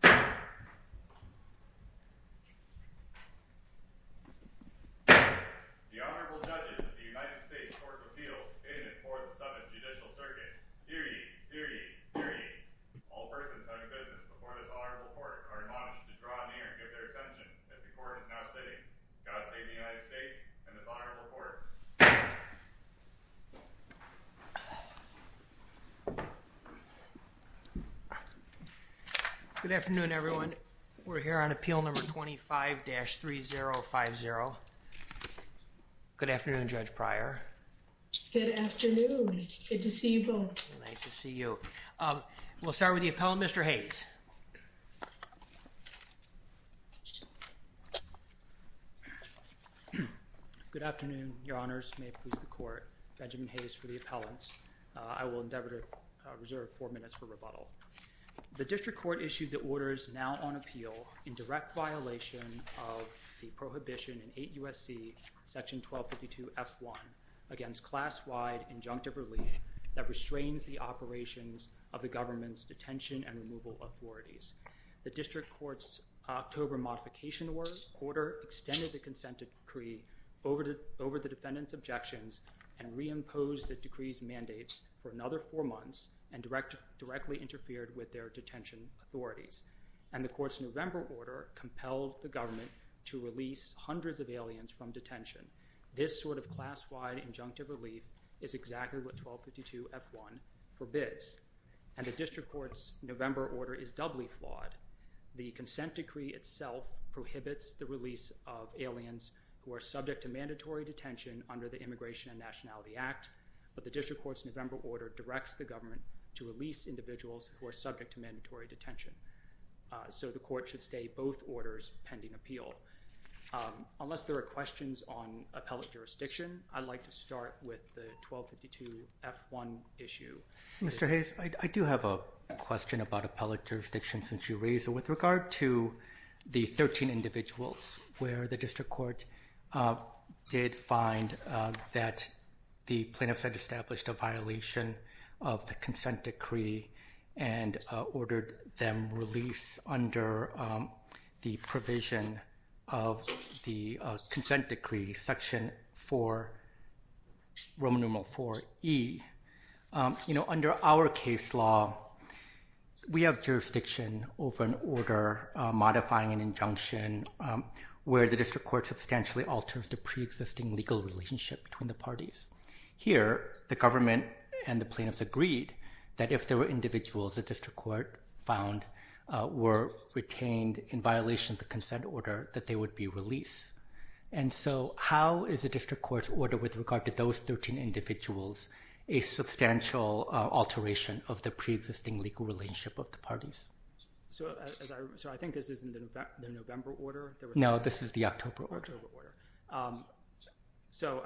The Honorable Judges of the U.S. Court of Appeals in the 4th and 7th Judicial Circuits. Hear ye, hear ye, hear ye! All persons having business before this Honorable Court are admonished to draw near and give their attention as the Court is now sitting. God save the United States and this Honorable Court. Good afternoon, everyone. We're here on Appeal Number 25-3050. Good afternoon, Judge Pryor. Good afternoon. Good to see you both. Nice to see you. We'll start with the appellant, Mr. Hayes. Good afternoon, Your Honors. May it please the Court. Benjamin Hayes for the appellants. I will endeavor to reserve four minutes for rebuttal. The District Court issued the orders now on appeal in direct violation of the Prohibition in 8 U.S.C. Section 1252-F1 against class-wide injunctive relief that restrains the operations of the government's detention and removal authorities. The District Court's October Modification Order extended the consent decree over the defendant's objections and reimposed the decree's mandates for another four months and directly interfered with their detention authorities. And the Court's November Order compelled the government to release hundreds of aliens from detention. This sort of class-wide injunctive relief is exactly what 1252-F1 forbids. And the District Court's November Order is doubly flawed. The consent decree itself prohibits the release of aliens who are subject to mandatory detention under the Immigration and Nationality Act. But the District Court's November Order directs the government to release individuals who are subject to mandatory detention. So the Court should stay both orders pending appeal. Unless there are questions on appellate jurisdiction, I'd like to start with the 1252-F1 issue. Mr. Hayes, I do have a question about appellate jurisdiction since you raised it. With regard to the 13 individuals where the District Court did find that the plaintiffs had established a violation of the consent decree and ordered them released under the provision of the consent decree, section 4, Roman numeral 4E. Under our case law, we have jurisdiction over an order modifying an injunction where the District Court substantially alters the pre-existing legal relationship between the parties. Here, the government and the plaintiffs agreed that if there were individuals the District Court found were retained in violation of the consent order, that they would be released. And so how is the District Court's order with regard to those 13 individuals a substantial alteration of the pre-existing legal relationship of the parties? So I think this is the November Order? No, this is the October Order. So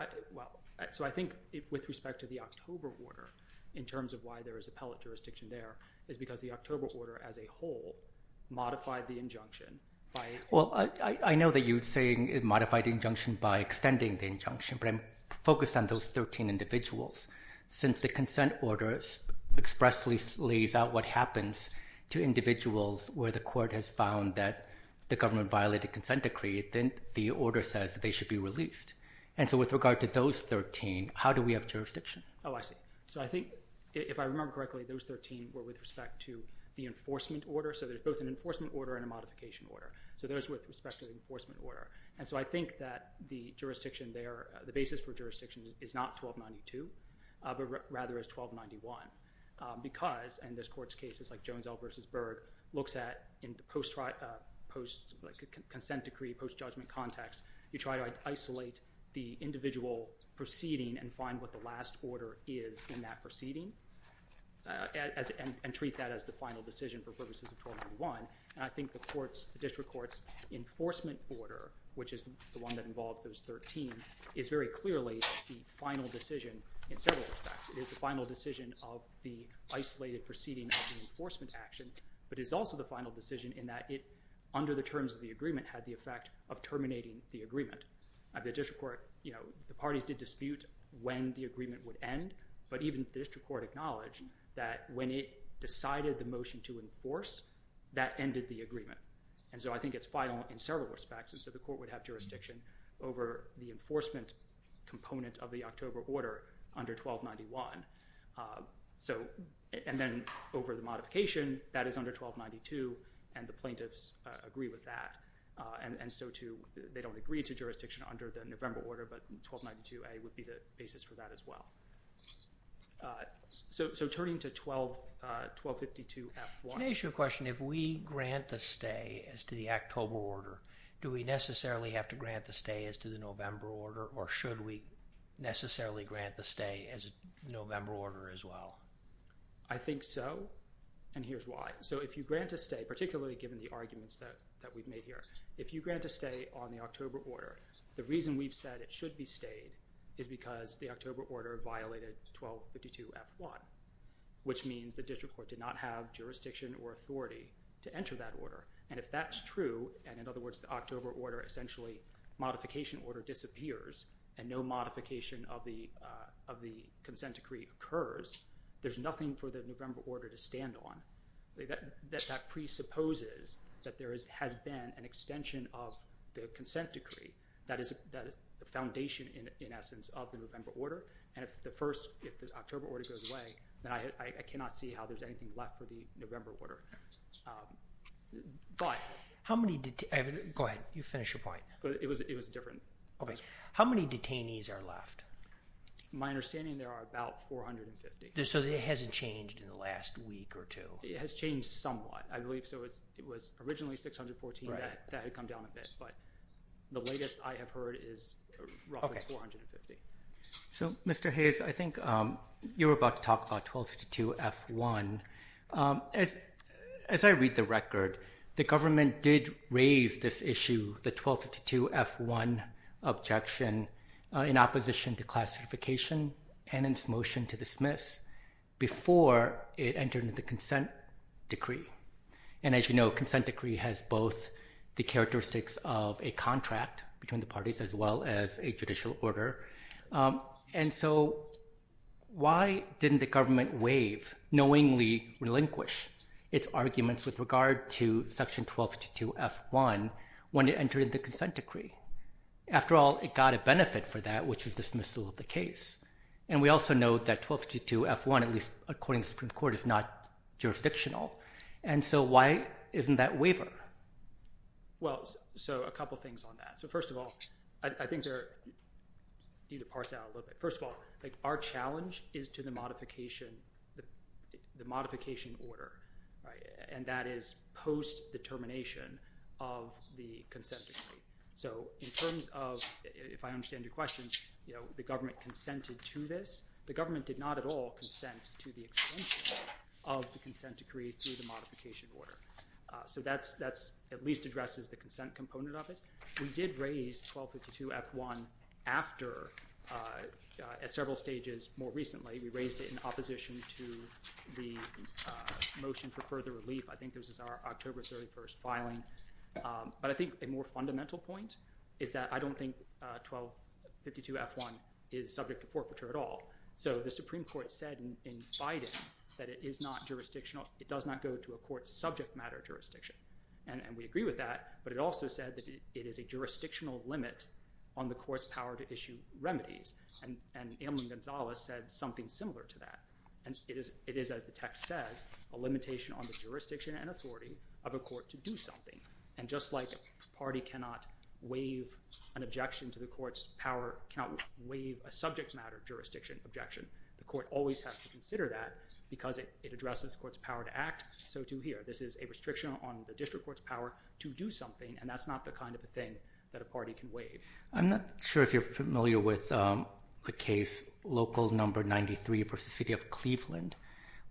I think with respect to the October Order, in terms of why there is appellate jurisdiction there, is because the October Order as a whole modified the injunction by... Well, I know that you're saying it modified the injunction by extending the injunction, but I'm focused on those 13 individuals. Since the consent order expressly lays out what happens to individuals where the court has found that the government violated consent decree, then the order says they should be released. And so with regard to those 13, how do we have jurisdiction? Oh, I see. So I think, if I remember correctly, those 13 were with respect to the enforcement order. So there's both an enforcement order and a modification order. So those were with respect to the enforcement order. And so I think that the jurisdiction there, the basis for jurisdiction, is not 1292, but rather is 1291. Because in this court's case, it's like Jones-Elk v. Berg looks at, in the consent decree, post-judgment context, you try to isolate the individual proceeding and find what the last order is in that proceeding and treat that as the final decision for purposes of 1291. And I think the district court's enforcement order, which is the one that involves those 13, is very clearly the final decision in several respects. It is the final decision of the isolated proceeding of the enforcement action, but it is also the final decision in that it, under the terms of the agreement, had the effect of terminating the agreement. The district court, you know, the parties did dispute when the agreement would end, but even the district court acknowledged that when it decided the motion to enforce, that ended the agreement. And so I think it's final in several respects. And so the court would have jurisdiction over the enforcement component of the October order under 1291. And then over the modification, that is under 1292, and the plaintiffs agree with that. And so they don't agree to jurisdiction under the November order, but 1292A would be the basis for that as well. So turning to 1252F1. Can I ask you a question? If we grant the stay as to the October order, do we necessarily have to grant the stay as to the November order, or should we necessarily grant the stay as a November order as well? I think so, and here's why. So if you grant a stay, particularly given the arguments that we've made here, if you grant a stay on the October order, the reason we've said it should be stayed is because the October order violated 1252F1, which means the district court did not have jurisdiction or authority to enter that order. And if that's true, and in other words, the October order essentially, modification order disappears, and no modification of the consent decree occurs, there's nothing for the November order to stand on. That presupposes that there has been an extension of the consent decree. That is the foundation, in essence, of the November order. And if the October order goes away, then I cannot see how there's anything left for the November order. How many detainees? Go ahead. You finish your point. It was different. Okay. How many detainees are left? My understanding, there are about 450. So it hasn't changed in the last week or two? It has changed somewhat. I believe it was originally 614. That had come down a bit, but the latest I have heard is roughly 450. So, Mr. Hayes, I think you were about to talk about 1252F1. As I read the record, the government did raise this issue, the 1252F1 objection, in opposition to classification and its motion to dismiss, before it entered into the consent decree. And as you know, consent decree has both the characteristics of a contract between the parties as well as a judicial order. And so why didn't the government waive, knowingly relinquish, its arguments with regard to Section 1252F1 when it entered the consent decree? After all, it got a benefit for that, which is dismissal of the case. And we also know that 1252F1, at least according to the Supreme Court, is not jurisdictional. And so why isn't that waiver? Well, so a couple of things on that. So first of all, I think there are – I need to parse out a little bit. First of all, our challenge is to the modification order, and that is post-determination of the consent decree. So in terms of – if I understand your question, the government consented to this. The government did not at all consent to the extension of the consent decree through the modification order. So that at least addresses the consent component of it. We did raise 1252F1 after – at several stages more recently. We raised it in opposition to the motion for further relief. I think this is our October 31st filing. But I think a more fundamental point is that I don't think 1252F1 is subject to forfeiture at all. So the Supreme Court said in Biden that it is not jurisdictional. It does not go to a court's subject matter jurisdiction. And we agree with that. But it also said that it is a jurisdictional limit on the court's power to issue remedies. And Amy Gonzalez said something similar to that. It is, as the text says, a limitation on the jurisdiction and authority of a court to do something. And just like a party cannot waive an objection to the court's power – cannot waive a subject matter jurisdiction objection, the court always has to consider that because it addresses the court's power to act. So do here. This is a restriction on the district court's power to do something, and that's not the kind of thing that a party can waive. I'm not sure if you're familiar with a case, Local No. 93 v. City of Cleveland,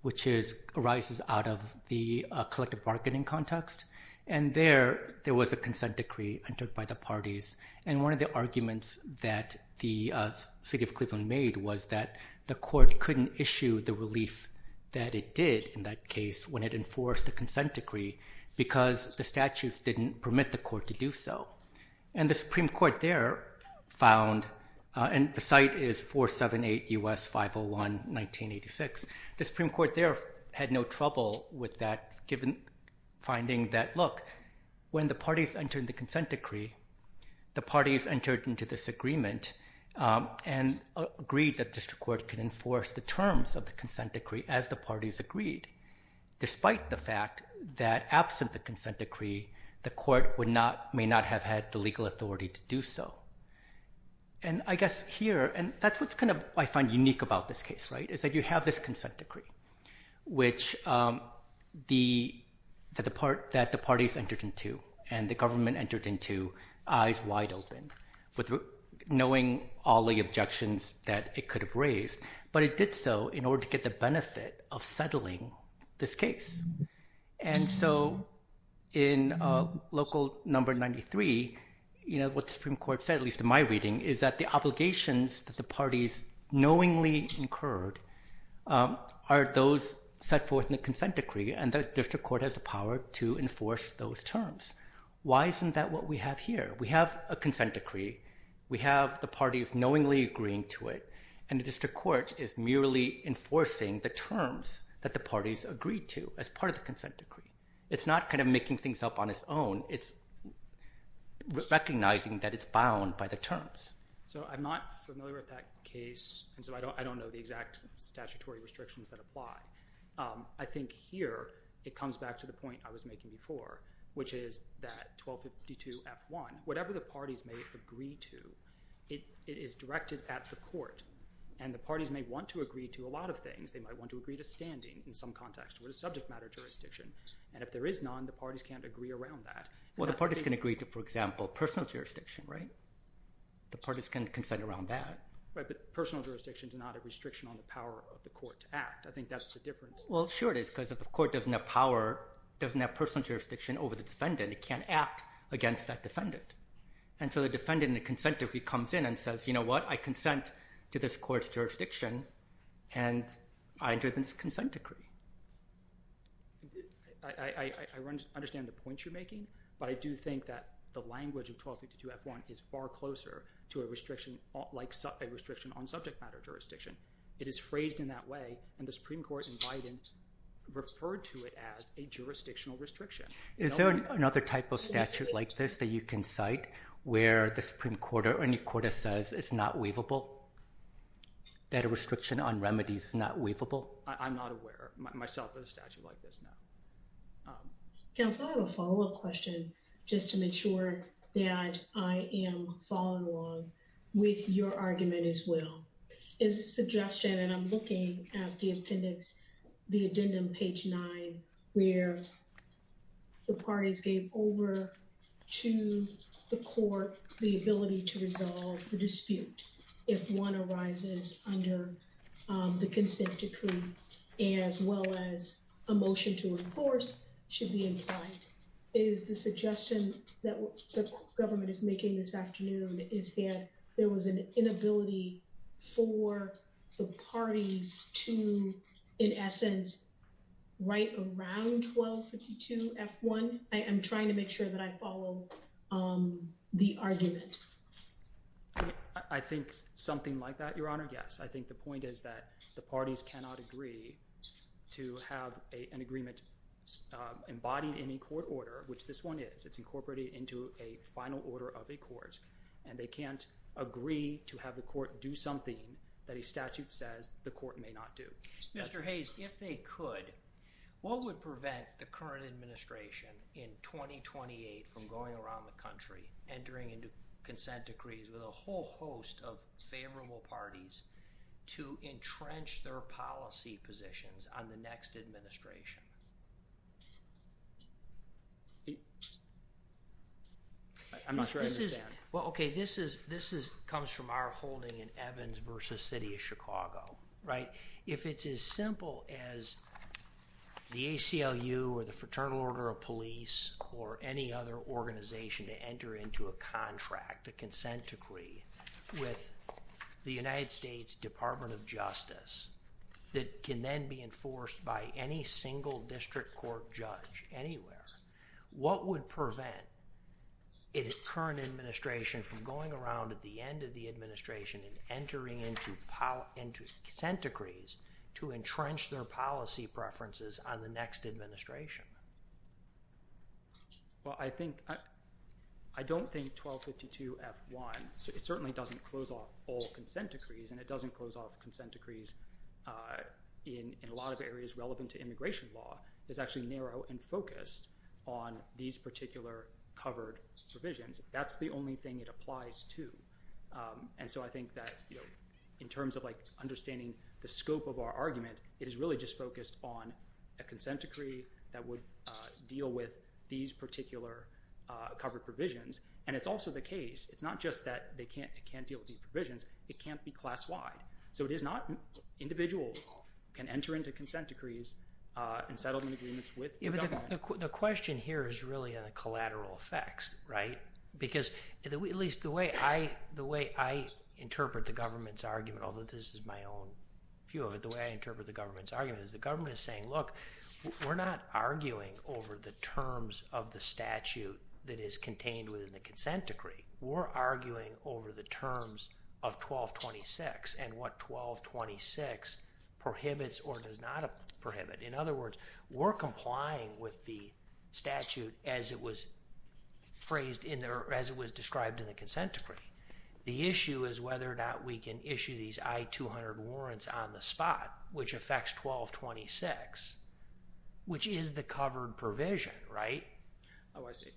which arises out of the collective bargaining context. And there, there was a consent decree entered by the parties. And one of the arguments that the City of Cleveland made was that the court couldn't issue the relief that it did in that case when it enforced the consent decree because the statutes didn't permit the court to do so. And the Supreme Court there found – and the site is 478 U.S. 501 1986 – the Supreme Court there had no trouble with that, given finding that, look, when the parties entered the consent decree, the parties entered into this agreement and agreed that the district court could enforce the terms of the consent decree as the parties agreed, despite the fact that, absent the consent decree, the court may not have had the legal authority to do so. And I guess here, and that's what I find unique about this case, right, is that you have this consent decree, which the parties entered into and the government entered into eyes wide open, knowing all the objections that it could have raised. But it did so in order to get the benefit of settling this case. And so in Local Number 93, what the Supreme Court said, at least in my reading, is that the obligations that the parties knowingly incurred are those set forth in the consent decree, and the district court has the power to enforce those terms. Why isn't that what we have here? We have a consent decree. We have the parties knowingly agreeing to it, and the district court is merely enforcing the terms that the parties agreed to as part of the consent decree. It's not kind of making things up on its own. It's recognizing that it's bound by the terms. So I'm not familiar with that case, and so I don't know the exact statutory restrictions that apply. I think here it comes back to the point I was making before, which is that 1252F1, whatever the parties may agree to, it is directed at the court, and the parties may want to agree to a lot of things. They might want to agree to standing in some context or a subject matter jurisdiction, and if there is none, the parties can't agree around that. Well, the parties can agree to, for example, personal jurisdiction, right? The parties can consent around that. Right, but personal jurisdiction is not a restriction on the power of the court to act. I think that's the difference. Well, sure it is, because if the court doesn't have power, doesn't have personal jurisdiction over the defendant, it can't act against that defendant. And so the defendant in a consent decree comes in and says, you know what, I consent to this court's jurisdiction, and I entered this consent decree. I understand the point you're making, but I do think that the language of 1252F1 is far closer to a restriction on subject matter jurisdiction. It is phrased in that way, and the Supreme Court in Biden referred to it as a jurisdictional restriction. Is there another type of statute like this that you can cite where the Supreme Court or any court says it's not waivable, that a restriction on remedies is not waivable? I'm not aware myself of a statute like this, no. Counsel, I have a follow-up question just to make sure that I am following along with your argument as well. It's a suggestion, and I'm looking at the appendix, the addendum page nine, where the parties gave over to the court the ability to resolve the dispute if one arises under the consent decree, as well as a motion to enforce should be implied. Is the suggestion that the government is making this afternoon is that there was an inability for the parties to, in essence, write around 1252F1? I'm trying to make sure that I follow the argument. I think something like that, Your Honor, yes. I think the point is that the parties cannot agree to have an agreement embodied in a court order, which this one is. It's incorporated into a final order of a court, and they can't agree to have the court do something that a statute says the court may not do. Mr. Hayes, if they could, what would prevent the current administration in 2028 from going around the country, entering into consent decrees with a whole host of favorable parties to entrench their policy positions on the next administration? I'm not sure I understand. Well, okay, this comes from our holding in Evans v. City of Chicago, right? If it's as simple as the ACLU or the Fraternal Order of Police or any other organization to enter into a contract, a consent decree, with the United States Department of Justice that can then be enforced by any single party or single district court judge anywhere, what would prevent a current administration from going around at the end of the administration and entering into consent decrees to entrench their policy preferences on the next administration? Well, I don't think 1252F1, it certainly doesn't close off all consent decrees, and it doesn't close off consent decrees in a lot of areas relevant to immigration law. It's actually narrow and focused on these particular covered provisions. That's the only thing it applies to. And so I think that in terms of understanding the scope of our argument, it is really just focused on a consent decree that would deal with these particular covered provisions. And it's also the case, it's not just that it can't deal with these provisions, it can't be class-wide. So it is not individuals can enter into consent decrees in settlement agreements with the government. Yeah, but the question here is really on the collateral effects, right? Because at least the way I interpret the government's argument, although this is my own view of it, the way I interpret the government's argument is the government is saying, look, we're not arguing over the terms of the statute that is contained within the consent decree. We're arguing over the terms of 1226, and what 1226 prohibits or does not prohibit. In other words, we're complying with the statute as it was phrased in there, as it was described in the consent decree. The issue is whether or not we can issue these I-200 warrants on the spot, which affects 1226, which is the covered provision, right? Oh, I see.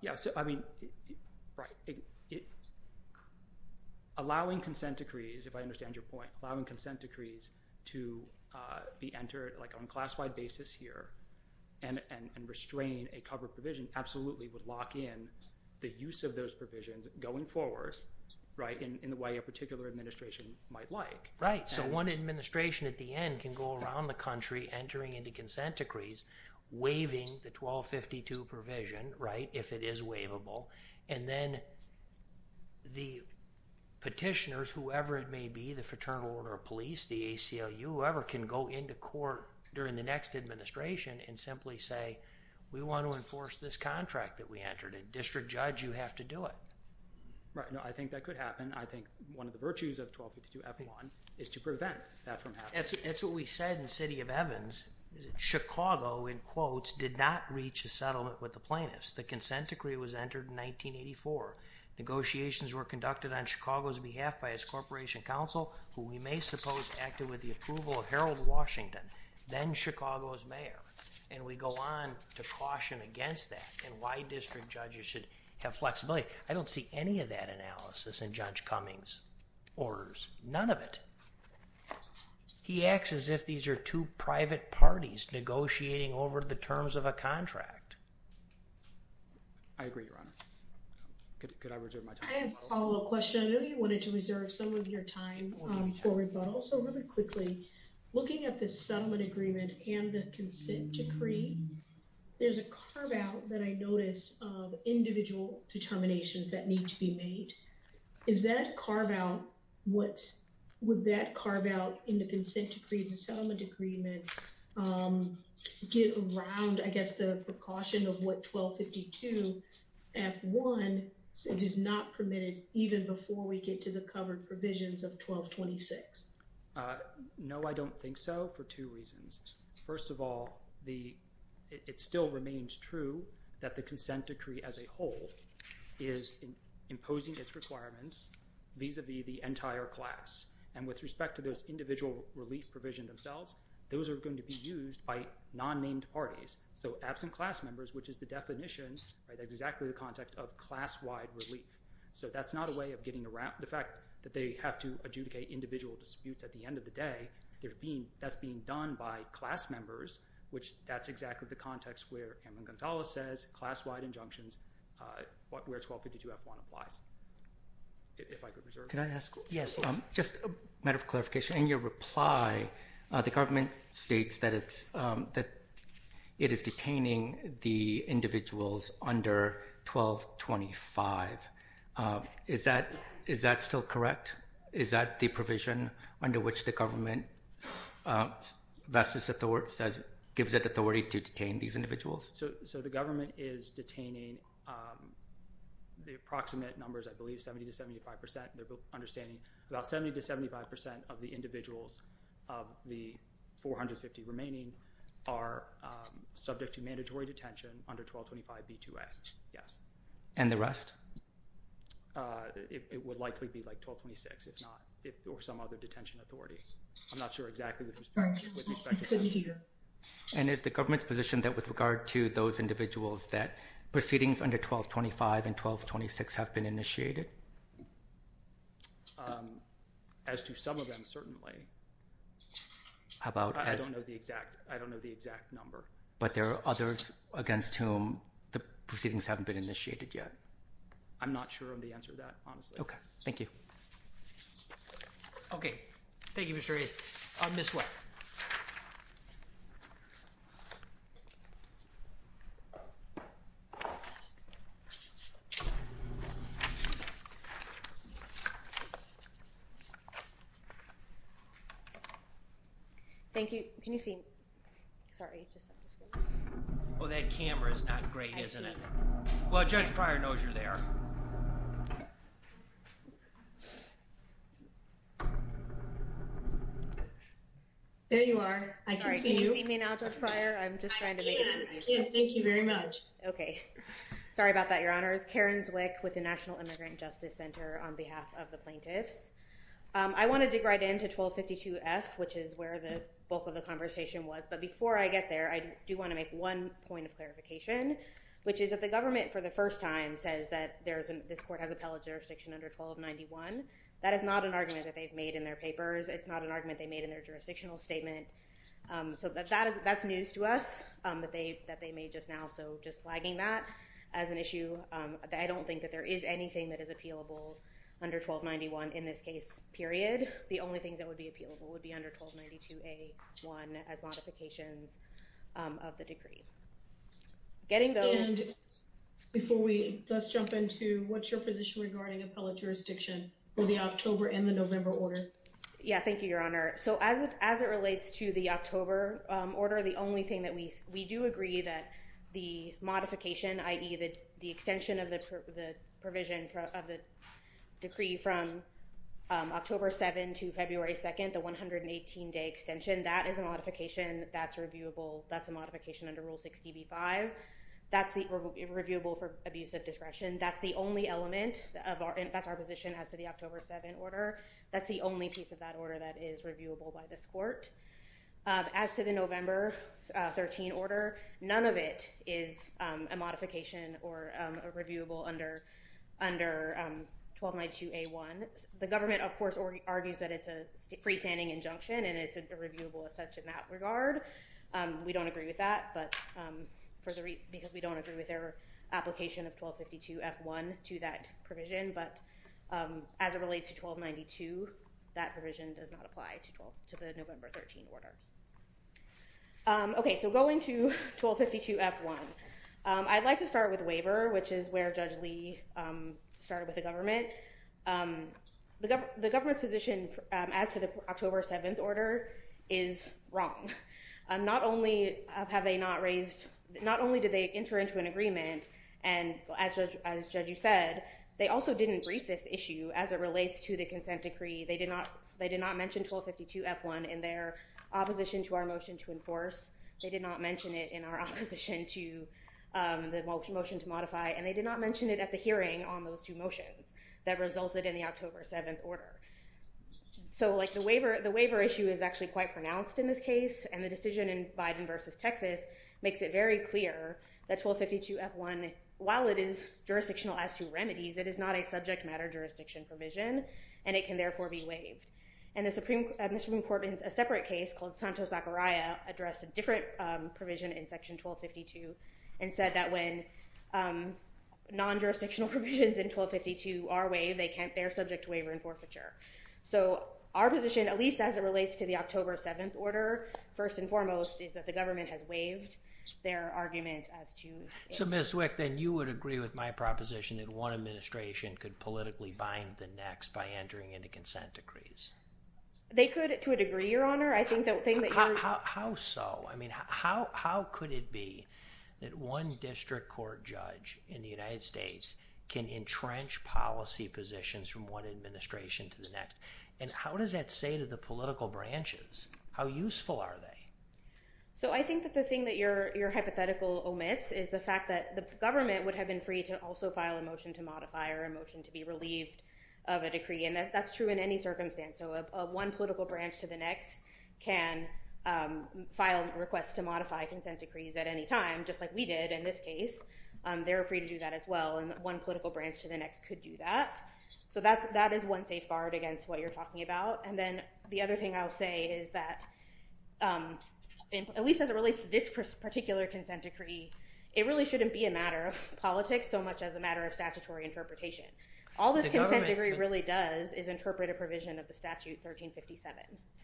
Yeah, so I mean, right. Allowing consent decrees, if I understand your point, allowing consent decrees to be entered on a classified basis here and restrain a covered provision absolutely would lock in the use of those provisions going forward, right, in the way a particular administration might like. Right, so one administration at the end can go around the country entering into consent decrees, waiving the 1252 provision, right, if it is waivable, and then the petitioners, whoever it may be, the Fraternal Order of Police, the ACLU, whoever can go into court during the next administration and simply say, we want to enforce this contract that we entered and district judge, you have to do it. Right, no, I think that could happen. I think one of the virtues of 1252-F1 is to prevent that from happening. That's what we said in the city of Evans. Chicago, in quotes, did not reach a settlement with the plaintiffs. The consent decree was entered in 1984. Negotiations were conducted on Chicago's behalf by its corporation council, who we may suppose acted with the approval of Harold Washington, then Chicago's mayor, and we go on to caution against that and why district judges should have flexibility. I don't see any of that analysis in Judge Cummings' orders, none of it. He acts as if these are two private parties negotiating over the terms of a contract. I agree, Your Honor. Could I reserve my time? I have a follow-up question. I know you wanted to reserve some of your time for rebuttal, so really quickly, looking at the settlement agreement and the consent decree, there's a carve-out that I notice of individual determinations that need to be made. Is that carve-out, would that carve-out in the consent decree and the settlement agreement get around, I guess, the precaution of what 1252 F1 does not permit it even before we get to the covered provisions of 1226? No, I don't think so, for two reasons. First of all, it still remains true that the consent decree as a whole is imposing its requirements vis-a-vis the entire class and with respect to those individual relief provisions themselves, those are going to be used by non-named parties. So absent class members, which is the definition, that's exactly the context of class-wide relief. So that's not a way of getting around, the fact that they have to adjudicate individual disputes at the end of the day, that's being done by class members, which that's exactly the context where Kamala Gonzalez says, class-wide injunctions, where 1252 F1 applies. If I could reserve my time. Can I ask, just a matter of clarification, in your reply, the government states that it is detaining the individuals under 1225. Is that still correct? Is that the provision under which the government gives it authority to detain these individuals? So the government is detaining the approximate numbers, I believe 70-75%, understanding about 70-75% of the individuals of the 450 remaining are subject to mandatory detention under 1225 B2A, yes. And the rest? It would likely be like 1226, if not, or some other detention authority. I'm not sure exactly with respect to that. And is the government's position that with regard to those individuals that proceedings under 1225 and 1226 have been initiated? As to some of them, certainly. How about... I don't know the exact number. But there are others against whom the proceedings haven't been initiated yet? I'm not sure of the answer to that, honestly. Okay, thank you. Okay, thank you, Mr. Hayes. Ms. Sweat. Thank you. Can you see me? Oh, that camera is not great, isn't it? Well, Judge Pryor knows you're there. There you are. I can see you. Sorry, can you see me now, Judge Pryor? I'm just trying to make it... I can. Thank you very much. Okay. Sorry about that, Your Honor. It's Karen Zwick with the National Immigrant Justice Network. I'm here to speak on behalf of the plaintiffs. I want to dig right into 1252F, which is where the bulk of the conversation was. But before I get there, I do want to make one point of clarification, which is that the government, for the first time, says that this court has appellate jurisdiction under 1291. That is not an argument that they've made in their papers. It's not an argument they made in their jurisdictional statement. So that's news to us, that they made just now. So just flagging that as an issue, I don't think that there is anything that is appealable under 1291 in this case, period. The only things that would be appealable would be under 1292A1 as modifications of the decree. Getting those... And before we... Let's jump into what's your position regarding appellate jurisdiction for the October and the November order. Yeah, thank you, Your Honor. So as it relates to the October order, the only thing that we... We do agree that the modification, i.e. the extension of the provision of the decree from October 7 to February 2nd, the 118-day extension, that is a modification that's reviewable. That's a modification under Rule 60b-5. That's reviewable for abuse of discretion. That's the only element of our... That's our position as to the October 7 order. That's the only piece of that order that is reviewable by this court. As to the November 13 order, none of it is a modification or a reviewable under 1292A1. The government, of course, argues that it's a freestanding injunction and it's a reviewable as such in that regard. We don't agree with that because we don't agree with their application of 1252F1 to that provision. But as it relates to 1292, that provision does not apply to the November 13 order. Okay, so going to 1252F1, I'd like to start with waiver, which is where Judge Lee started with the government. The government's position as to the October 7 order is wrong. Not only have they not raised... Not only did they enter into an agreement, and as Judge Yu said, they also didn't brief this issue as it relates to the consent decree. They did not mention 1252F1 in their opposition to our motion to enforce. They did not mention it in our opposition to the motion to modify, and they did not mention it at the hearing on those two motions that resulted in the October 7 order. So, like, the waiver issue is actually quite pronounced in this case, and the decision in Biden versus Texas makes it very clear that 1252F1, while it is jurisdictional as to remedies, it is not a subject matter jurisdiction provision, and it can, therefore, be waived. And the Supreme Court, in a separate case called Santos-Zachariah, addressed a different provision in Section 1252 and said that when non-jurisdictional provisions in 1252 are waived, they're subject to waiver and forfeiture. So, our position, at least as it relates to the October 7 order, first and foremost, is that the government has waived their arguments as to... So, Ms. Wick, then you would agree with my proposition that one administration could politically bind the next by entering into consent decrees. They could, to a degree, Your Honor. I think the thing that you're... How so? I mean, how could it be that one district court judge in the United States can entrench policy positions from one administration to the next? And how does that say to the political branches? How useful are they? So, I think that the thing that your hypothetical omits is the fact that the government would have been free to also file a motion to modify or a motion to be relieved of a decree, and that's true in any circumstance. So, one political branch to the next can file requests to modify consent decrees at any time, just like we did in this case. They're free to do that as well, and one political branch to the next could do that. So, that is one safeguard against what you're talking about. And then the other thing I'll say is that, at least as it relates to this particular consent decree, it really shouldn't be a matter of politics so much as a matter of statutory interpretation. All this consent decree really does is interpret a provision of the statute 1357.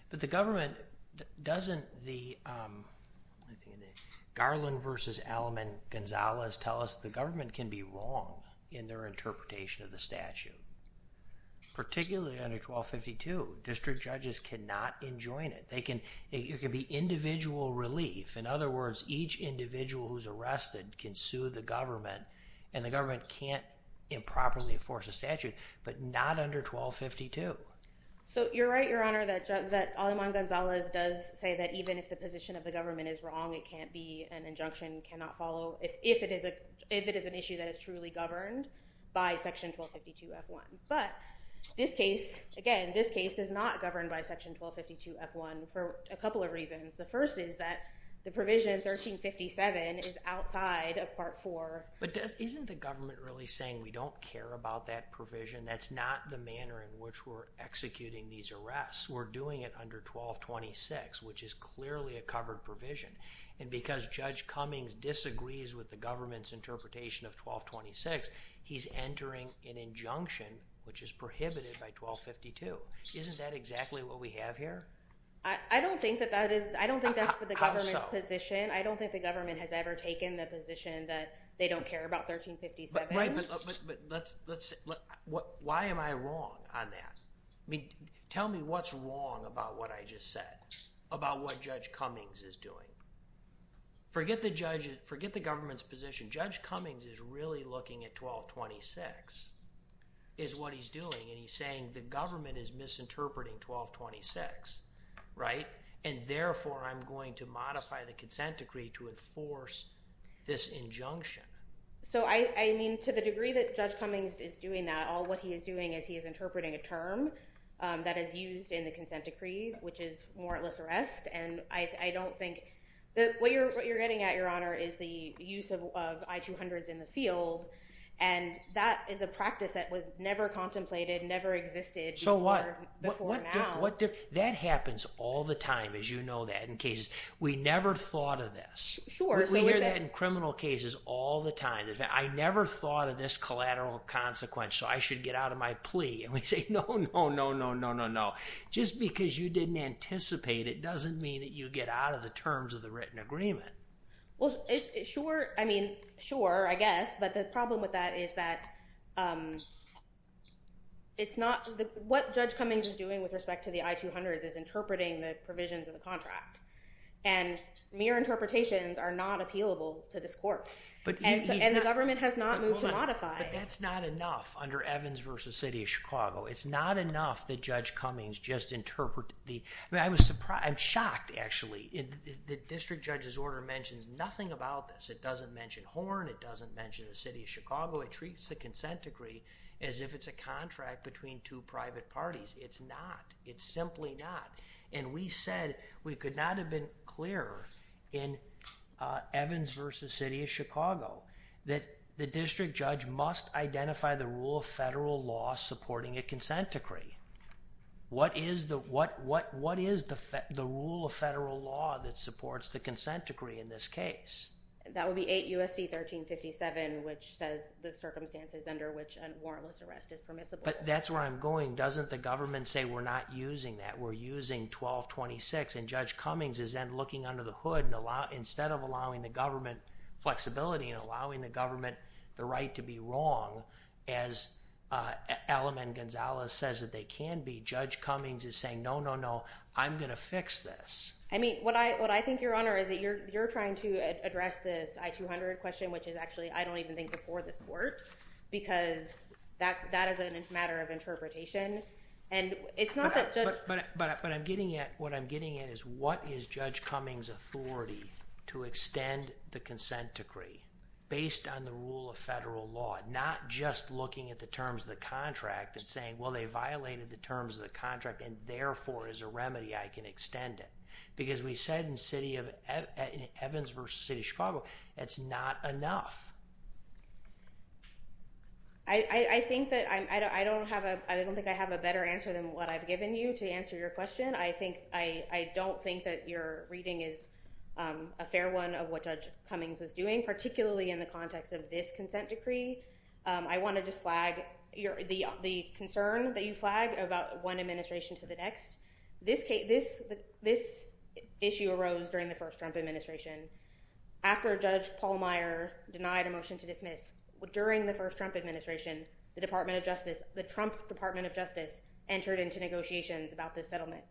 But the government doesn't... Garland versus Alleman-Gonzalez tell us the government can be wrong in their interpretation of the statute, particularly under 1252. District judges cannot enjoin it. It can be individual relief. In other words, each individual who's arrested can sue the government, and the government can't improperly enforce a statute, but not under 1252. So, you're right, Your Honor, that Alleman-Gonzalez does say that even if the position of the government is wrong, it can't be an injunction, cannot follow, if it is an issue that is truly governed by Section 1252-F1. But this case, again, this case is not governed by Section 1252-F1 for a couple of reasons. The first is that the provision 1357 is outside of Part 4. But isn't the government really saying we don't care about that provision? That's not the manner in which we're executing these arrests. We're doing it under 1226, which is clearly a covered provision. And because Judge Cummings disagrees with the government's interpretation of 1226, he's entering an injunction, which is prohibited by 1252. Isn't that exactly what we have here? I don't think that that is... I don't think that's for the government's position. I don't think the government has ever taken the position that they don't care about 1357. Right, but let's... Why am I wrong on that? Tell me what's wrong about what I just said, about what Judge Cummings is doing. Forget the government's position. Judge Cummings is really looking at 1226, is what he's doing, and he's saying the government is misinterpreting 1226, right? And therefore, I'm going to modify the consent decree to enforce this injunction. So I mean, to the degree that Judge Cummings is doing that, all what he is doing is he is interpreting a term that is used in the consent decree, which is warrantless arrest, and I don't think... What you're getting at, Your Honor, is the use of I-200s in the field, and that is a practice that was never contemplated, never existed before now. That happens all the time, as you know that, in cases. We never thought of this. We hear that in criminal cases all the time. I never thought of this collateral consequence, so I should get out of my plea. And we say, no, no, no, no, no, no, no. Just because you didn't anticipate it doesn't mean that you get out of the terms of the written agreement. Well, sure, I mean, sure, I guess, but the problem with that is that it's not... What Judge Cummings is doing with respect to the I-200s is interpreting the provisions of the contract, and mere interpretations are not appealable to this court, and the government has not moved to modify... But that's not enough under Evans v. City of Chicago. It's not enough that Judge Cummings just interpreted the... I mean, I was surprised... I'm shocked, actually. The district judge's order mentions nothing about this. It doesn't mention Horn, it doesn't mention the City of Chicago. It treats the consent decree as if it's a contract between two private parties. It's not. It's simply not. And we said we could not have been clearer in Evans v. City of Chicago that the district judge must identify the rule of federal law supporting a consent decree. What is the rule of federal law that supports the consent decree in this case? That would be 8 U.S.C. 1357, which says the circumstances under which a warrantless arrest is permissible. But that's where I'm going. Doesn't the government say we're not using that? We're using 1226. And Judge Cummings is then looking under the hood instead of allowing the government flexibility and allowing the government the right to be wrong, as Alam and Gonzalez says that they can be, Judge Cummings is saying, no, no, no, I'm going to fix this. I mean, what I think, Your Honor, is that you're trying to address this I-200 question, which is actually, I don't even think, before this court, because that is a matter of interpretation. But what I'm getting at is, what is Judge Cummings' authority to extend the consent decree based on the rule of federal law, not just looking at the terms of the contract and saying, well, they violated the terms of the contract and therefore, as a remedy, I can extend it. Because we said in Evans v. City of Chicago, that's not enough. I don't think I have a better answer than what I've given you to answer your question. I don't think that your reading is a fair one of what Judge Cummings is doing, particularly in the context of this consent decree. I want to just flag the concern that you flag about one administration to the next. This issue arose during the first Trump administration. After Judge Paul Meyer denied a motion to dismiss, during the first Trump administration, the Department of Justice, the Trump Department of Justice, entered into negotiations about this settlement.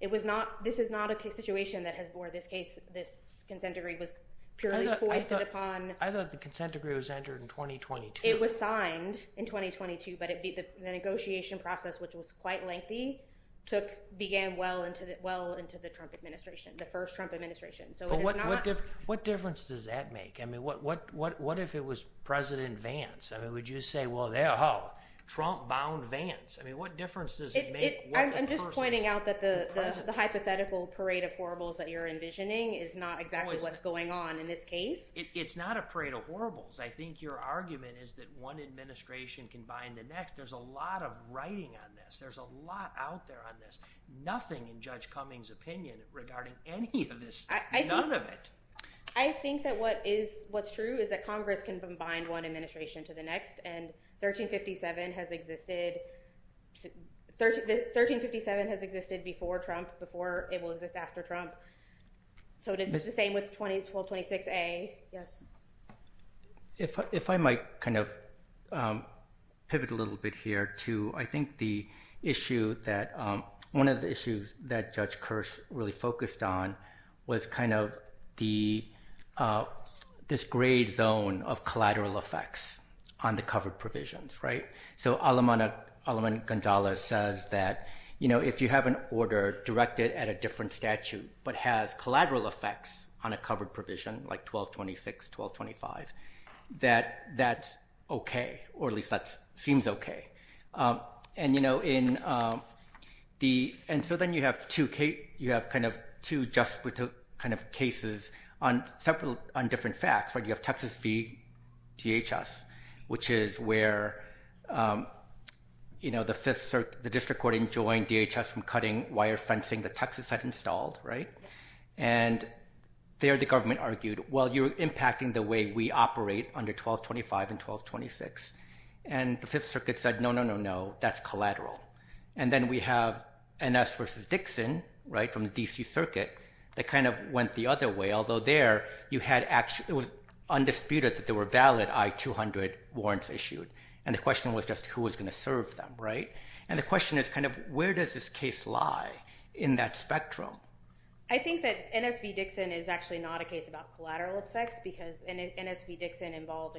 This is not a situation that has bore this case. This consent decree was purely foisted upon. I thought the consent decree was entered in 2022. It was signed in 2022, but the negotiation process, which was quite lengthy, began well into the Trump administration, the first Trump administration. What difference does that make? I mean, what if it was President Vance? I mean, would you say, well, there you go, Trump-bound Vance. I mean, what difference does it make? I'm just pointing out that the hypothetical parade of horribles that you're envisioning is not exactly what's going on in this case. It's not a parade of horribles. I think your argument is that one administration can bind the next. There's a lot of writing on this. There's a lot out there on this. Nothing in Judge Cummings' opinion regarding any of this, none of it. I think that what's true is that Congress can bind one administration to the next, and 1357 has existed. 1357 has existed before Trump, before it will exist after Trump. So it is the same with 1226A. Yes. If I might kind of pivot a little bit here to I think the issue that one of the issues that Judge Kirsch really focused on was kind of this gray zone of collateral effects on the covered provisions, right? So Aleman Gonzalez says that if you have an order directed at a different statute but has collateral effects on a covered provision like 1226, 1225, that that's okay, or at least that seems okay. And so then you have two cases on different facts, right? You have Texas v. DHS, which is where the District Court enjoined DHS from cutting wire fencing that Texas had installed, right? And there the government argued, well, you're impacting the way we operate under 1225 and 1226. And the Fifth Circuit said, no, no, no, no, that's collateral. And then we have NS v. Dixon, right, from the D.C. Circuit that kind of went the other way, although there it was undisputed that there were valid I-200 warrants issued. And the question was just who was going to serve them, right? And the question is kind of where does this case lie in that spectrum? I think that NS v. Dixon is actually not a case about collateral effects because NS v. Dixon involved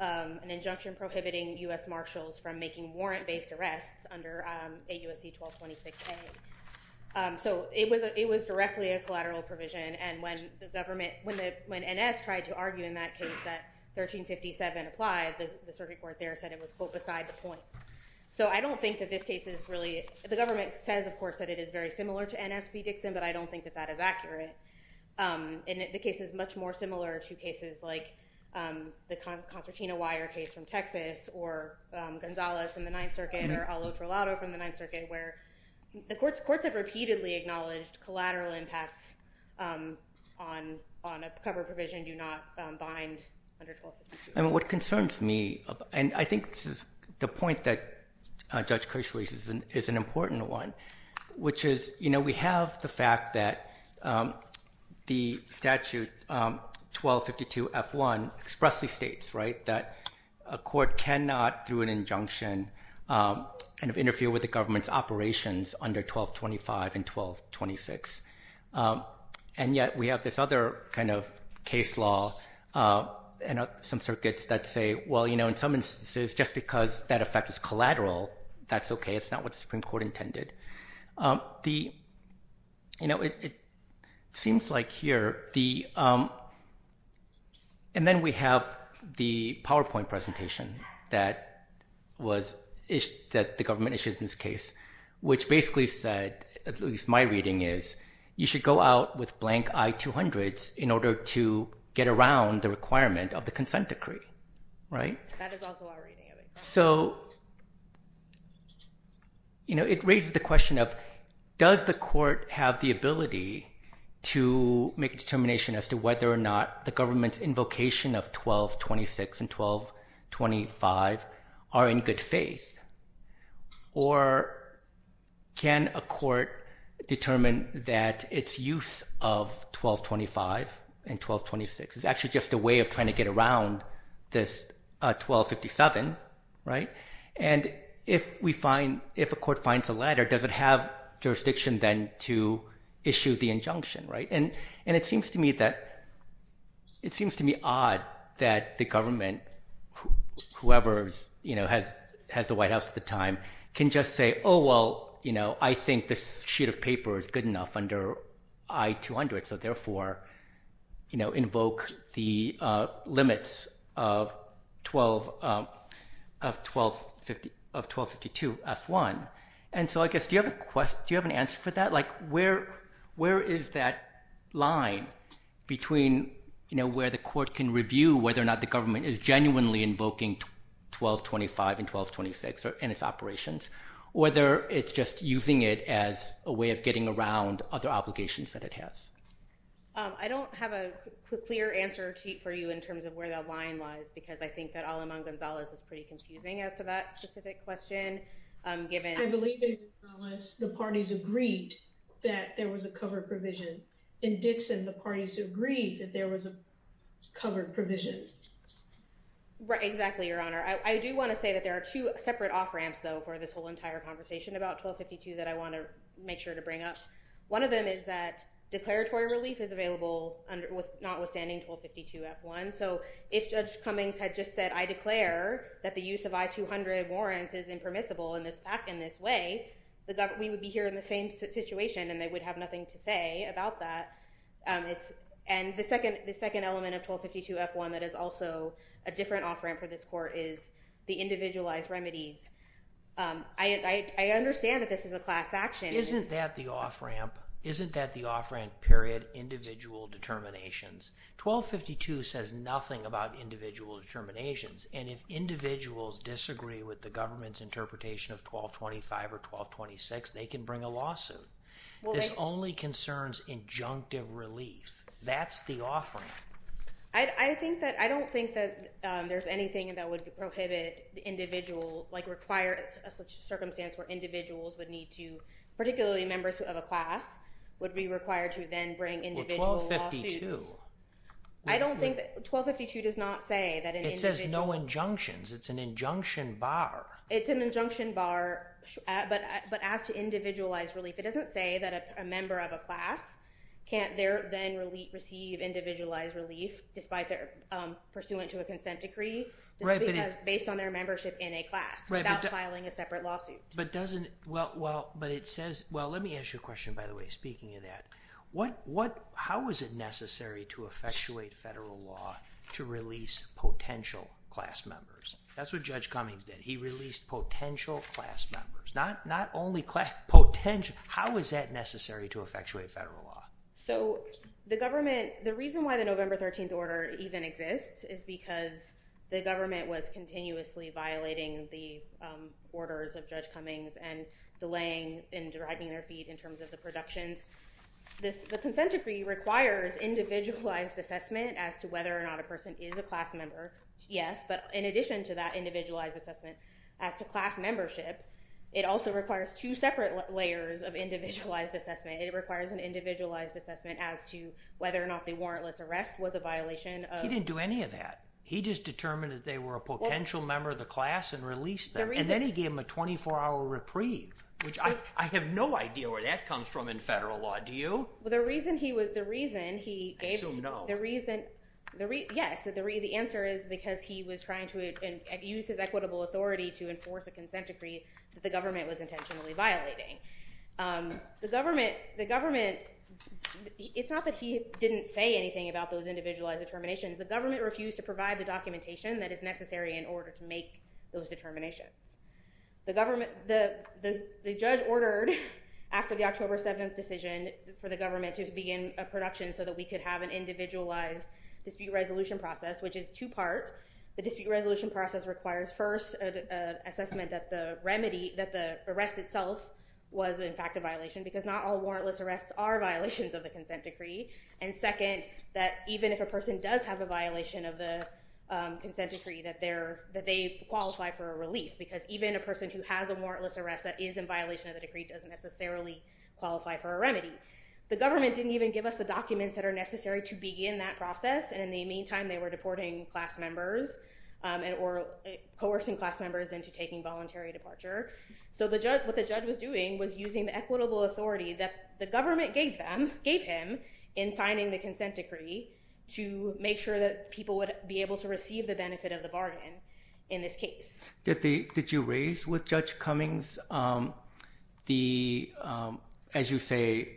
an injunction prohibiting U.S. Marshals from making warrant-based arrests under AUSC 1226A. So it was directly a collateral provision. And when NS tried to argue in that case that 1357 applied, the Circuit Court there said it was, quote, beside the point. So I don't think that this case is really, the government says, of course, that it is very similar to NS v. Dixon, but I don't think that that is accurate. And the case is much more similar to cases like the Concertina Wire case from Texas or Gonzales from the Ninth Circuit or Al Otro Lado from the Ninth Circuit where the courts have repeatedly acknowledged collateral impacts on a cover provision do not bind under 1252. And what concerns me, and I think this is the point that Judge Kirschweiss is an important one, which is we have the fact that the statute 1252F1 expressly states that a court cannot, through an injunction, interfere with the government's operations under 1225 and 1226. And yet we have this other kind of case law and some circuits that say, well, in some instances, just because that effect is collateral, that's okay. It's not what the Supreme Court intended. The, you know, it seems like here, and then we have the PowerPoint presentation that the government issued in this case, which basically said, at least my reading is, you should go out with blank I-200s in order to get around the requirement of the consent decree, right? That is also our reading of it. So, you know, it raises the question of, does the court have the ability to make a determination as to whether or not the government's invocation of 1226 and 1225 are in good faith? Or can a court determine that its use of 1225 and 1226 is actually just a way of trying to get around this 1257, right? And if we find, if a court finds the latter, does it have jurisdiction then to issue the injunction, right? And it seems to me that, it seems to me odd that the government, whoever, you know, has the White House at the time, can just say, oh, well, you know, I think this sheet of paper is good enough under I-200, so therefore, you know, invoke the limits of 1252 F-1. And so I guess, do you have an answer for that? Like, where is that line between, you know, where the court can review whether or not the government is genuinely invoking 1225 and 1226 in its operations, or whether it's just using it as a way of getting around other obligations that it has? I don't have a clear answer for you in terms of where that line was, because I think that Alamang Gonzalez is pretty confusing as to that specific question, given... I believe in Gonzalez, the parties agreed that there was a covered provision. In Dixon, the parties agreed that there was a covered provision. Right, exactly, Your Honor. I do want to say that there are two separate off-ramps, though, for this whole entire conversation about 1252 that I want to make sure to bring up. One of them is that declaratory relief is available notwithstanding 1252 F-1. So if Judge Cummings had just said, I declare that the use of I-200 warrants is impermissible in this way, we would be here in the same situation, and they would have nothing to say about that. And the second element of 1252 F-1 that is also a different off-ramp for this court is the individualized remedies. I understand that this is a class action. Isn't that the off-ramp period individual determinations? 1252 says nothing about individual determinations, and if individuals disagree with the government's interpretation of 1225 or 1226, they can bring a lawsuit. This only concerns injunctive relief. That's the off-ramp. I don't think that there's anything that would prohibit the individual, like require a circumstance where individuals would need to, particularly members of a class, would be required to then bring individual lawsuits. I don't think that 1252 does not say that an individual... It says no injunctions. It's an injunction bar. It's an injunction bar, but as to individualized relief, it doesn't say that a member of a class can't then receive individualized relief pursuant to a consent decree, just because based on their membership in a class without filing a separate lawsuit. But it says... Well, let me ask you a question, by the way, speaking of that. How is it necessary to effectuate federal law to release potential class members? That's what Judge Cummings did. He released potential class members. Not only class... How is that necessary to effectuate federal law? So the government... The reason why the November 13th order even exists is because the government was continuously violating the orders of Judge Cummings and delaying and dragging their feet in terms of the productions. The consent decree requires individualized assessment as to whether or not a person is a class member, yes, but in addition to that individualized assessment as to class membership, it also requires two separate layers of individualized assessment. It requires an individualized assessment as to whether or not the warrantless arrest was a violation of... He didn't do any of that. He just determined that they were a potential member of the class and released them, and then he gave them a 24-hour reprieve, which I have no idea where that comes from in federal law. Do you? Well, the reason he was... I assume no. Yes, the answer is because he was trying to use his equitable authority to enforce a consent decree that the government was intentionally violating. The government... It's not that he didn't say anything about those individualized determinations. The government refused to provide the documentation that is necessary in order to make those determinations. The government... The judge ordered, after the October 7th decision, for the government to begin a production so that we could have an individualized dispute resolution process, which is two-part. The dispute resolution process requires, first, an assessment that the remedy, that the arrest itself was, in fact, a violation, because not all warrantless arrests are violations of the consent decree, and second, that even if a person does have a violation of the consent decree, that they qualify for a relief, because even a person who has a warrantless arrest that is in violation of the decree doesn't necessarily qualify for a remedy. The government didn't even give us the documents that are necessary to begin that process, and in the meantime, they were deporting class members or coercing class members into taking voluntary departure. So what the judge was doing was using the equitable authority that the government gave them, gave him, in signing the consent decree to make sure that people would be able to receive the benefit of the bargain in this case. Did you raise with Judge Cummings the, as you say,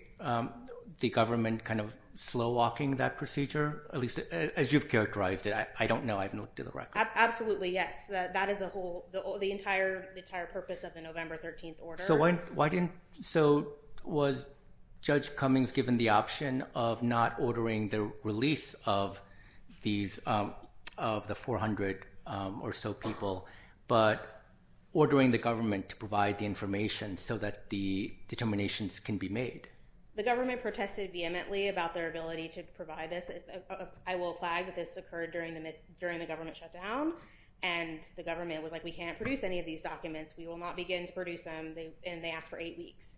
the government kind of slow-walking that procedure, at least as you've characterized it? I don't know. I have not looked at the record. Absolutely, yes. That is the whole, the entire purpose of the November 13th order. So why didn't, so was Judge Cummings given the option of not ordering the release of these, of the 400 or so people, but ordering the government to provide the information so that the determinations can be made? The government protested vehemently about their ability to provide this. I will flag that this occurred during the government shutdown, and the government was like, we can't produce any of these documents. We will not begin to produce them. And they asked for eight weeks.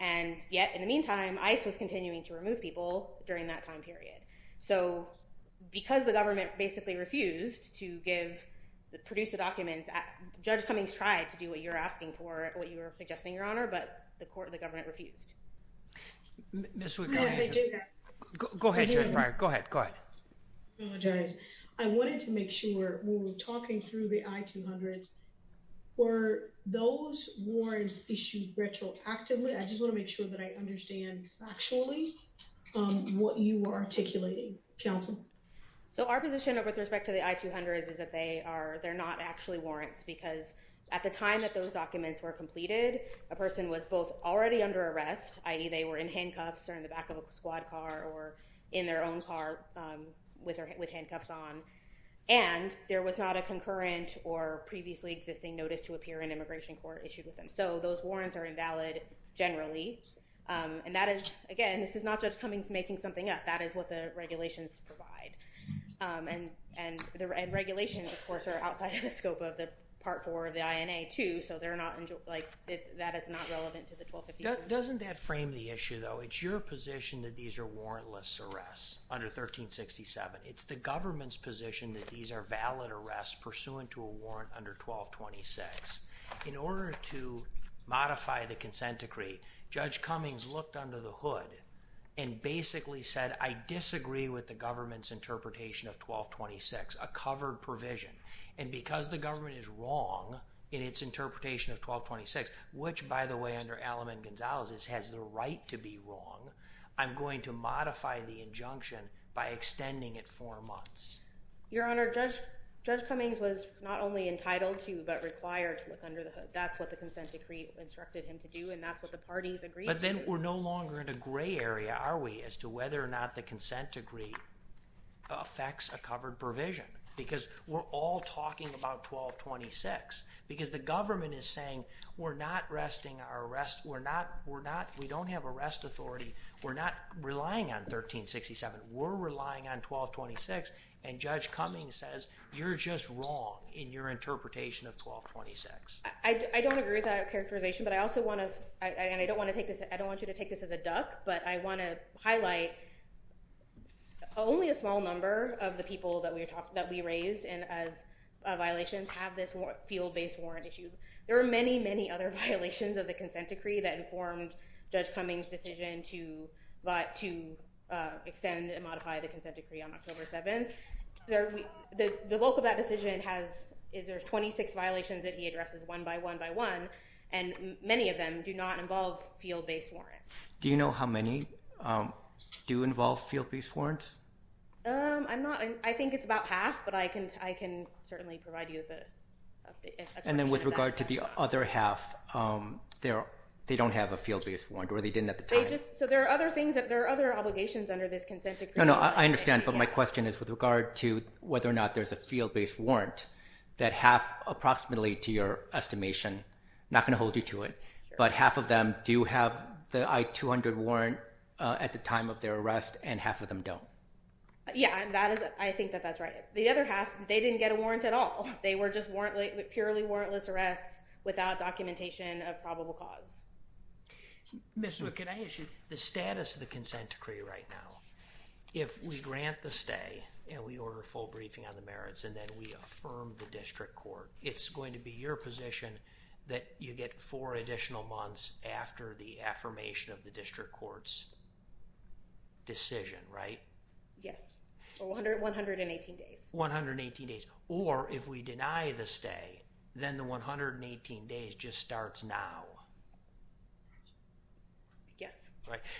And yet, in the meantime, ICE was continuing to remove people during that time period. So because the government basically refused to give, produce the documents, Judge Cummings tried to do what you're asking for, what you were suggesting, Your Honor, but the court, the government refused. Ms. Sweetcombe. Go ahead, Judge Breyer. Go ahead. Go ahead. I apologize. I wanted to make sure, when we were talking through the I-200s, were those warrants issued retroactively? I just want to make sure that I understand factually what you were articulating. Counsel? So our position with respect to the I-200s is that they are, they're not actually warrants because at the time that those documents were completed, a person was both already under arrest, i.e. they were in handcuffs or in the back of a squad car or in their own car with handcuffs on, and there was not a concurrent or previously existing notice to appear in immigration court issued with them. So those warrants are invalid generally, and that is, again, this is not Judge Cummings making something up. That is what the regulations provide, and the regulations, of course, are outside of the scope of the Part 4 of the INA, too, so they're not, like, that is not relevant to the 1252. Doesn't that frame the issue, though? It's your position that these are warrantless arrests under 1367. It's the government's position that these are valid arrests pursuant to a warrant under 1226. In order to modify the consent decree, Judge Cummings looked under the hood and basically said, I disagree with the government's interpretation of 1226, a covered provision, and because the government is wrong in its interpretation of 1226, which, by the way, under Alleman-Gonzalez, has the right to be wrong, I'm going to modify the injunction by extending it four months. Your Honor, Judge Cummings was not only entitled to but required to look under the hood. That's what the consent decree instructed him to do, and that's what the parties agreed to. But then we're no longer in a gray area, are we, as to whether or not the consent decree affects a covered provision, because we're all talking about 1226, because the government is saying, we're not arresting our arrest... We don't have arrest authority. We're not relying on 1367. We're relying on 1226, and Judge Cummings says, you're just wrong in your interpretation of 1226. I don't agree with that characterization, but I also want to... I don't want you to take this as a duck, but I want to highlight only a small number of the people that we raised as violations have this field-based warrant issue. There are many, many other violations of the consent decree that informed Judge Cummings' decision to extend and modify the consent decree on October 7th. The bulk of that decision has... There's 26 violations that he addresses one by one by one, and many of them do not involve field-based warrants. Do you know how many do involve field-based warrants? I'm not... I think it's about half, but I can certainly provide you with a... And then with regard to the other half, they don't have a field-based warrant, or they didn't at the time. There are other obligations under this consent decree. I understand, but my question is with regard to whether or not there's a field-based warrant that half, approximately to your estimation, not going to hold you to it, but half of them do have the I-200 warrant at the time of their arrest, and half of them don't. Yeah, I think that that's right. The other half, they didn't get a warrant at all. They were just purely warrantless arrests without documentation of probable cause. Ms. Wood, can I ask you, the status of the consent decree right now, if we grant the stay, and we order a full briefing on the merits, and then we affirm the district court, it's going to be your position that you get four additional months after the affirmation of the district court's decision, right? Yes, 118 days. 118 days. Or if we deny the stay, then the 118 days just starts now. Yes.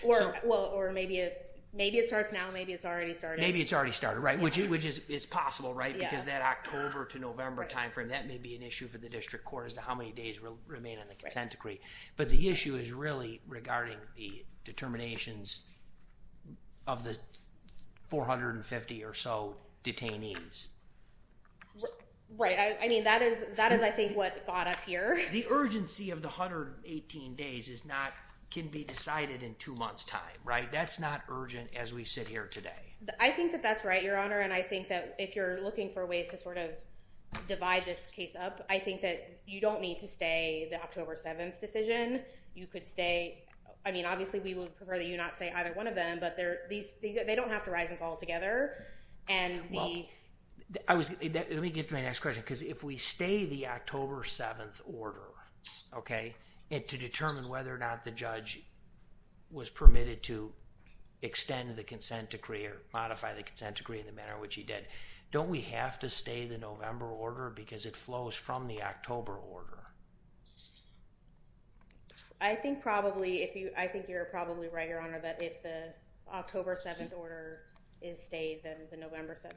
Or maybe it starts now, maybe it's already started. Maybe it's already started, right, which is possible, right, because that October to November time frame, that may be an issue for the district court as to how many days remain on the consent decree. But the issue is really regarding the determinations of the 450 or so detainees. Right, I mean, that is, I think, what got us here. The urgency of the 118 days is not, can be decided in two months' time, right? That's not urgent as we sit here today. I think that that's right, Your Honor, and I think that if you're looking for ways to sort of divide this case up, I think that you don't need to stay the October 7th decision. You could stay, I mean, obviously, we would prefer that you not stay either one of them, but they don't have to rise and fall together. Well, let me get to my next question, because if we stay the October 7th order, okay, and to determine whether or not the judge was permitted to extend the consent decree or modify the consent decree in the manner which he did, don't we have to stay the November order because it flows from the October order? I think probably, if you, I think you're probably right, Your Honor, that if the October 7th order is stayed, then the November 7th,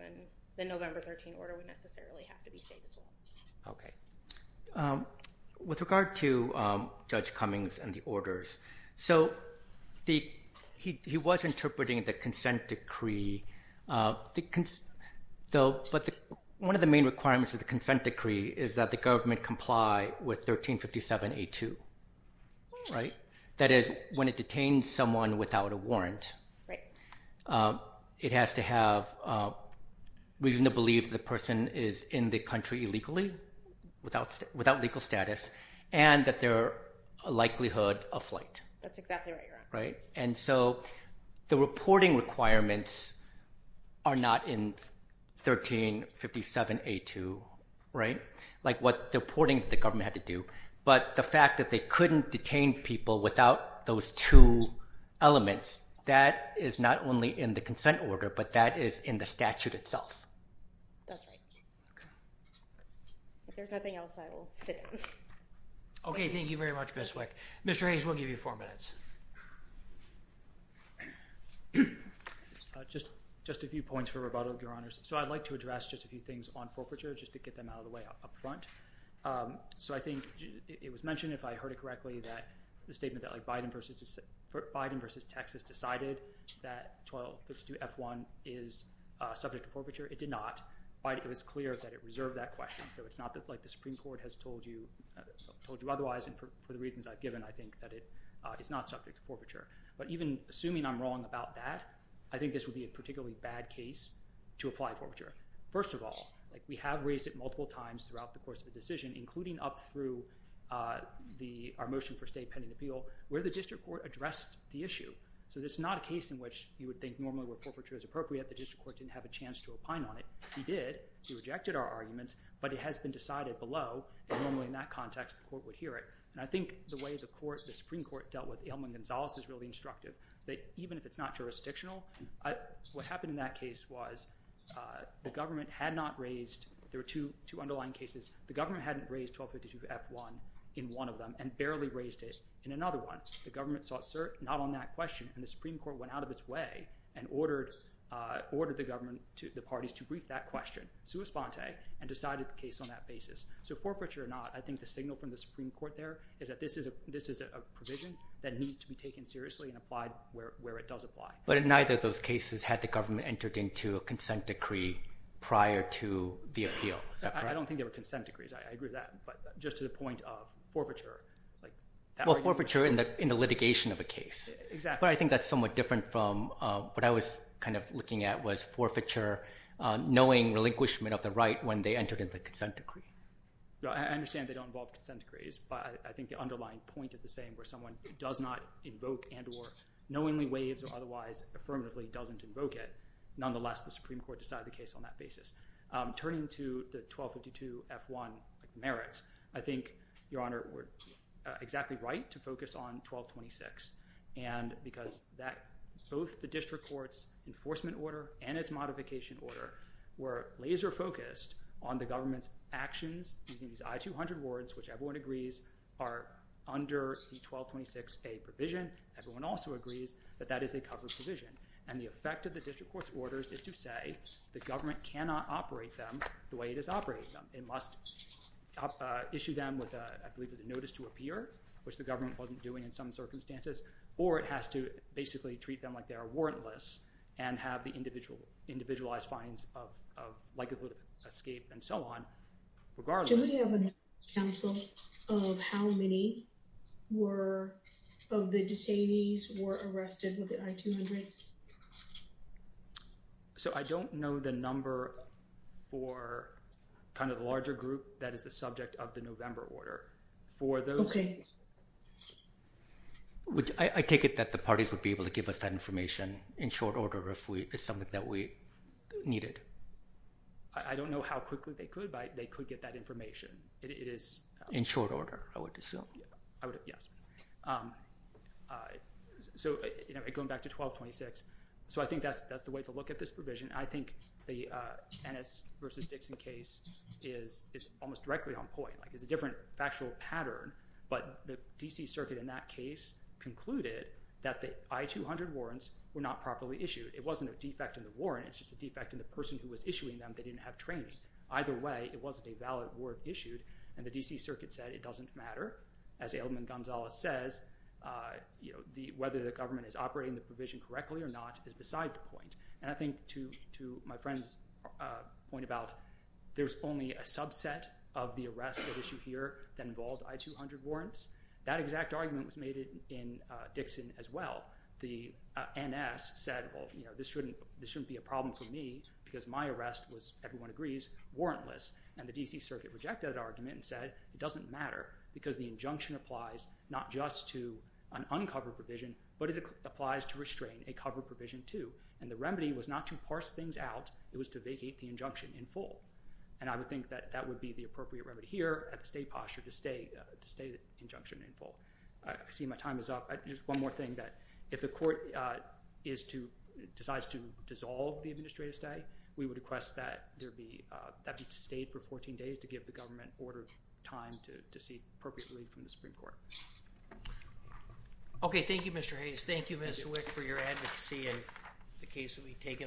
the November 13th order would necessarily have to be stayed as well. Okay. With regard to Judge Cummings and the orders, so he was interpreting the consent decree, but one of the main requirements of the consent decree is that the government comply with 1357A2, right? That is, when it detains someone without a warrant. Right. It has to have reason to believe the person is in the country illegally, without legal status, and that their likelihood of flight. That's exactly right, Your Honor. Right, and so the reporting requirements are not in 1357A2, right? Like what the reporting that the government had to do, but the fact that they couldn't detain people without those two elements, that is not only in the consent order, but that is in the statute itself. That's right. If there's nothing else, I will sit down. Okay, thank you very much, Ms. Wick. Mr. Hayes, we'll give you four minutes. Just a few points for rebuttal, Your Honors. So I'd like to address just a few things on forfeiture just to get them out of the way up front. So I think it was mentioned, if I heard it correctly, that the statement that Biden versus Texas decided that 1232F1 is subject to forfeiture, it did not. It was clear that it reserved that question, so it's not like the Supreme Court has told you otherwise, and for the reasons I've given, I think that it is not subject to forfeiture. But even assuming I'm wrong about that, I think this would be a particularly bad case to apply forfeiture. First of all, we have raised it multiple times throughout the course of the decision, including up through our motion for state pending appeal, where the district court addressed the issue. So this is not a case in which you would think normally where forfeiture is appropriate, the district court didn't have a chance to opine on it. He did, he rejected our arguments, but it has been decided below, and normally in that context, the court would hear it. And I think the way the Supreme Court dealt with Ailman-Gonzalez is really instructive, that even if it's not jurisdictional, what happened in that case was the government had not raised, there were two underlying cases, the government hadn't raised 1252-F1 in one of them, and barely raised it in another one. The government sought cert not on that question, and the Supreme Court went out of its way and ordered the government, the parties, to brief that question, sua sponte, and decided the case on that basis. So forfeiture or not, I think the signal from the Supreme Court there is that this is a provision that needs to be taken seriously and applied where it does apply. But in neither of those cases had the government entered into a consent decree prior to the appeal, is that correct? I don't think there were consent decrees, I agree with that, but just to the point of forfeiture. Well, forfeiture in the litigation of a case. Exactly. But I think that's somewhat different from what I was kind of looking at was forfeiture, knowing relinquishment of the right when they entered into a consent decree. I understand they don't involve consent decrees, but I think the underlying point of the saying where someone does not invoke and or knowingly waives or otherwise affirmatively doesn't invoke it, nonetheless, the Supreme Court would decide the case on that basis. Turning to the 1252-F1 merits, I think, Your Honor, we're exactly right to focus on 1226 because both the district court's enforcement order and its modification order were laser-focused on the government's actions using these I-200 wards, which everyone agrees are under the 1226-A provision. Everyone also agrees that that is a covered provision. And the effect of the district court's orders is to say the government cannot operate them the way it is operating them. It must issue them with, I believe, a notice to appear, which the government wasn't doing in some circumstances, or it has to basically treat them like they are warrantless and have the individualized fines of likelihood of escape and so on regardless. Do we have a number, counsel, of how many of the detainees were arrested with the I-200s? So I don't know the number for the larger group that is the subject of the November order. Okay. I take it that the parties would be able to give us that information in short order if it's something that we needed. I don't know how quickly they could, but they could get that information. In short order, I would assume. Yes. So going back to 1226, so I think that's the way to look at this provision. I think the Ennis v. Dixon case is almost directly on point. It's a different factual pattern, but the D.C. Circuit in that case concluded that the I-200 warrants were not properly issued. It wasn't a defect in the warrant. It's just a defect in the person who was issuing them that didn't have training. Either way, it wasn't a valid warrant issued, and the D.C. Circuit said it doesn't matter as Ailman Gonzales says, whether the government is operating the provision correctly or not is beside the point. And I think to my friend's point about there's only a subset of the arrests that issue here that involve I-200 warrants, that exact argument was made in Dixon as well. The Ennis said, well, this shouldn't be a problem for me because my arrest was, everyone agrees, warrantless. And the D.C. Circuit rejected that argument and said it doesn't matter because the injunction applies not just to an uncovered provision, but it applies to restrain a covered provision too. And the remedy was not to parse things out. It was to vacate the injunction in full. And I would think that that would be the appropriate remedy here at the state posture to stay the injunction in full. I see my time is up. Just one more thing, that if the court decides to dissolve the administrative stay, we would request that there be, that be to stay for 14 days just to give the government ordered time to see appropriate relief from the Supreme Court. Okay, thank you, Mr. Hayes. Thank you, Mr. Wick, for your advocacy and the case will be taken under advisement.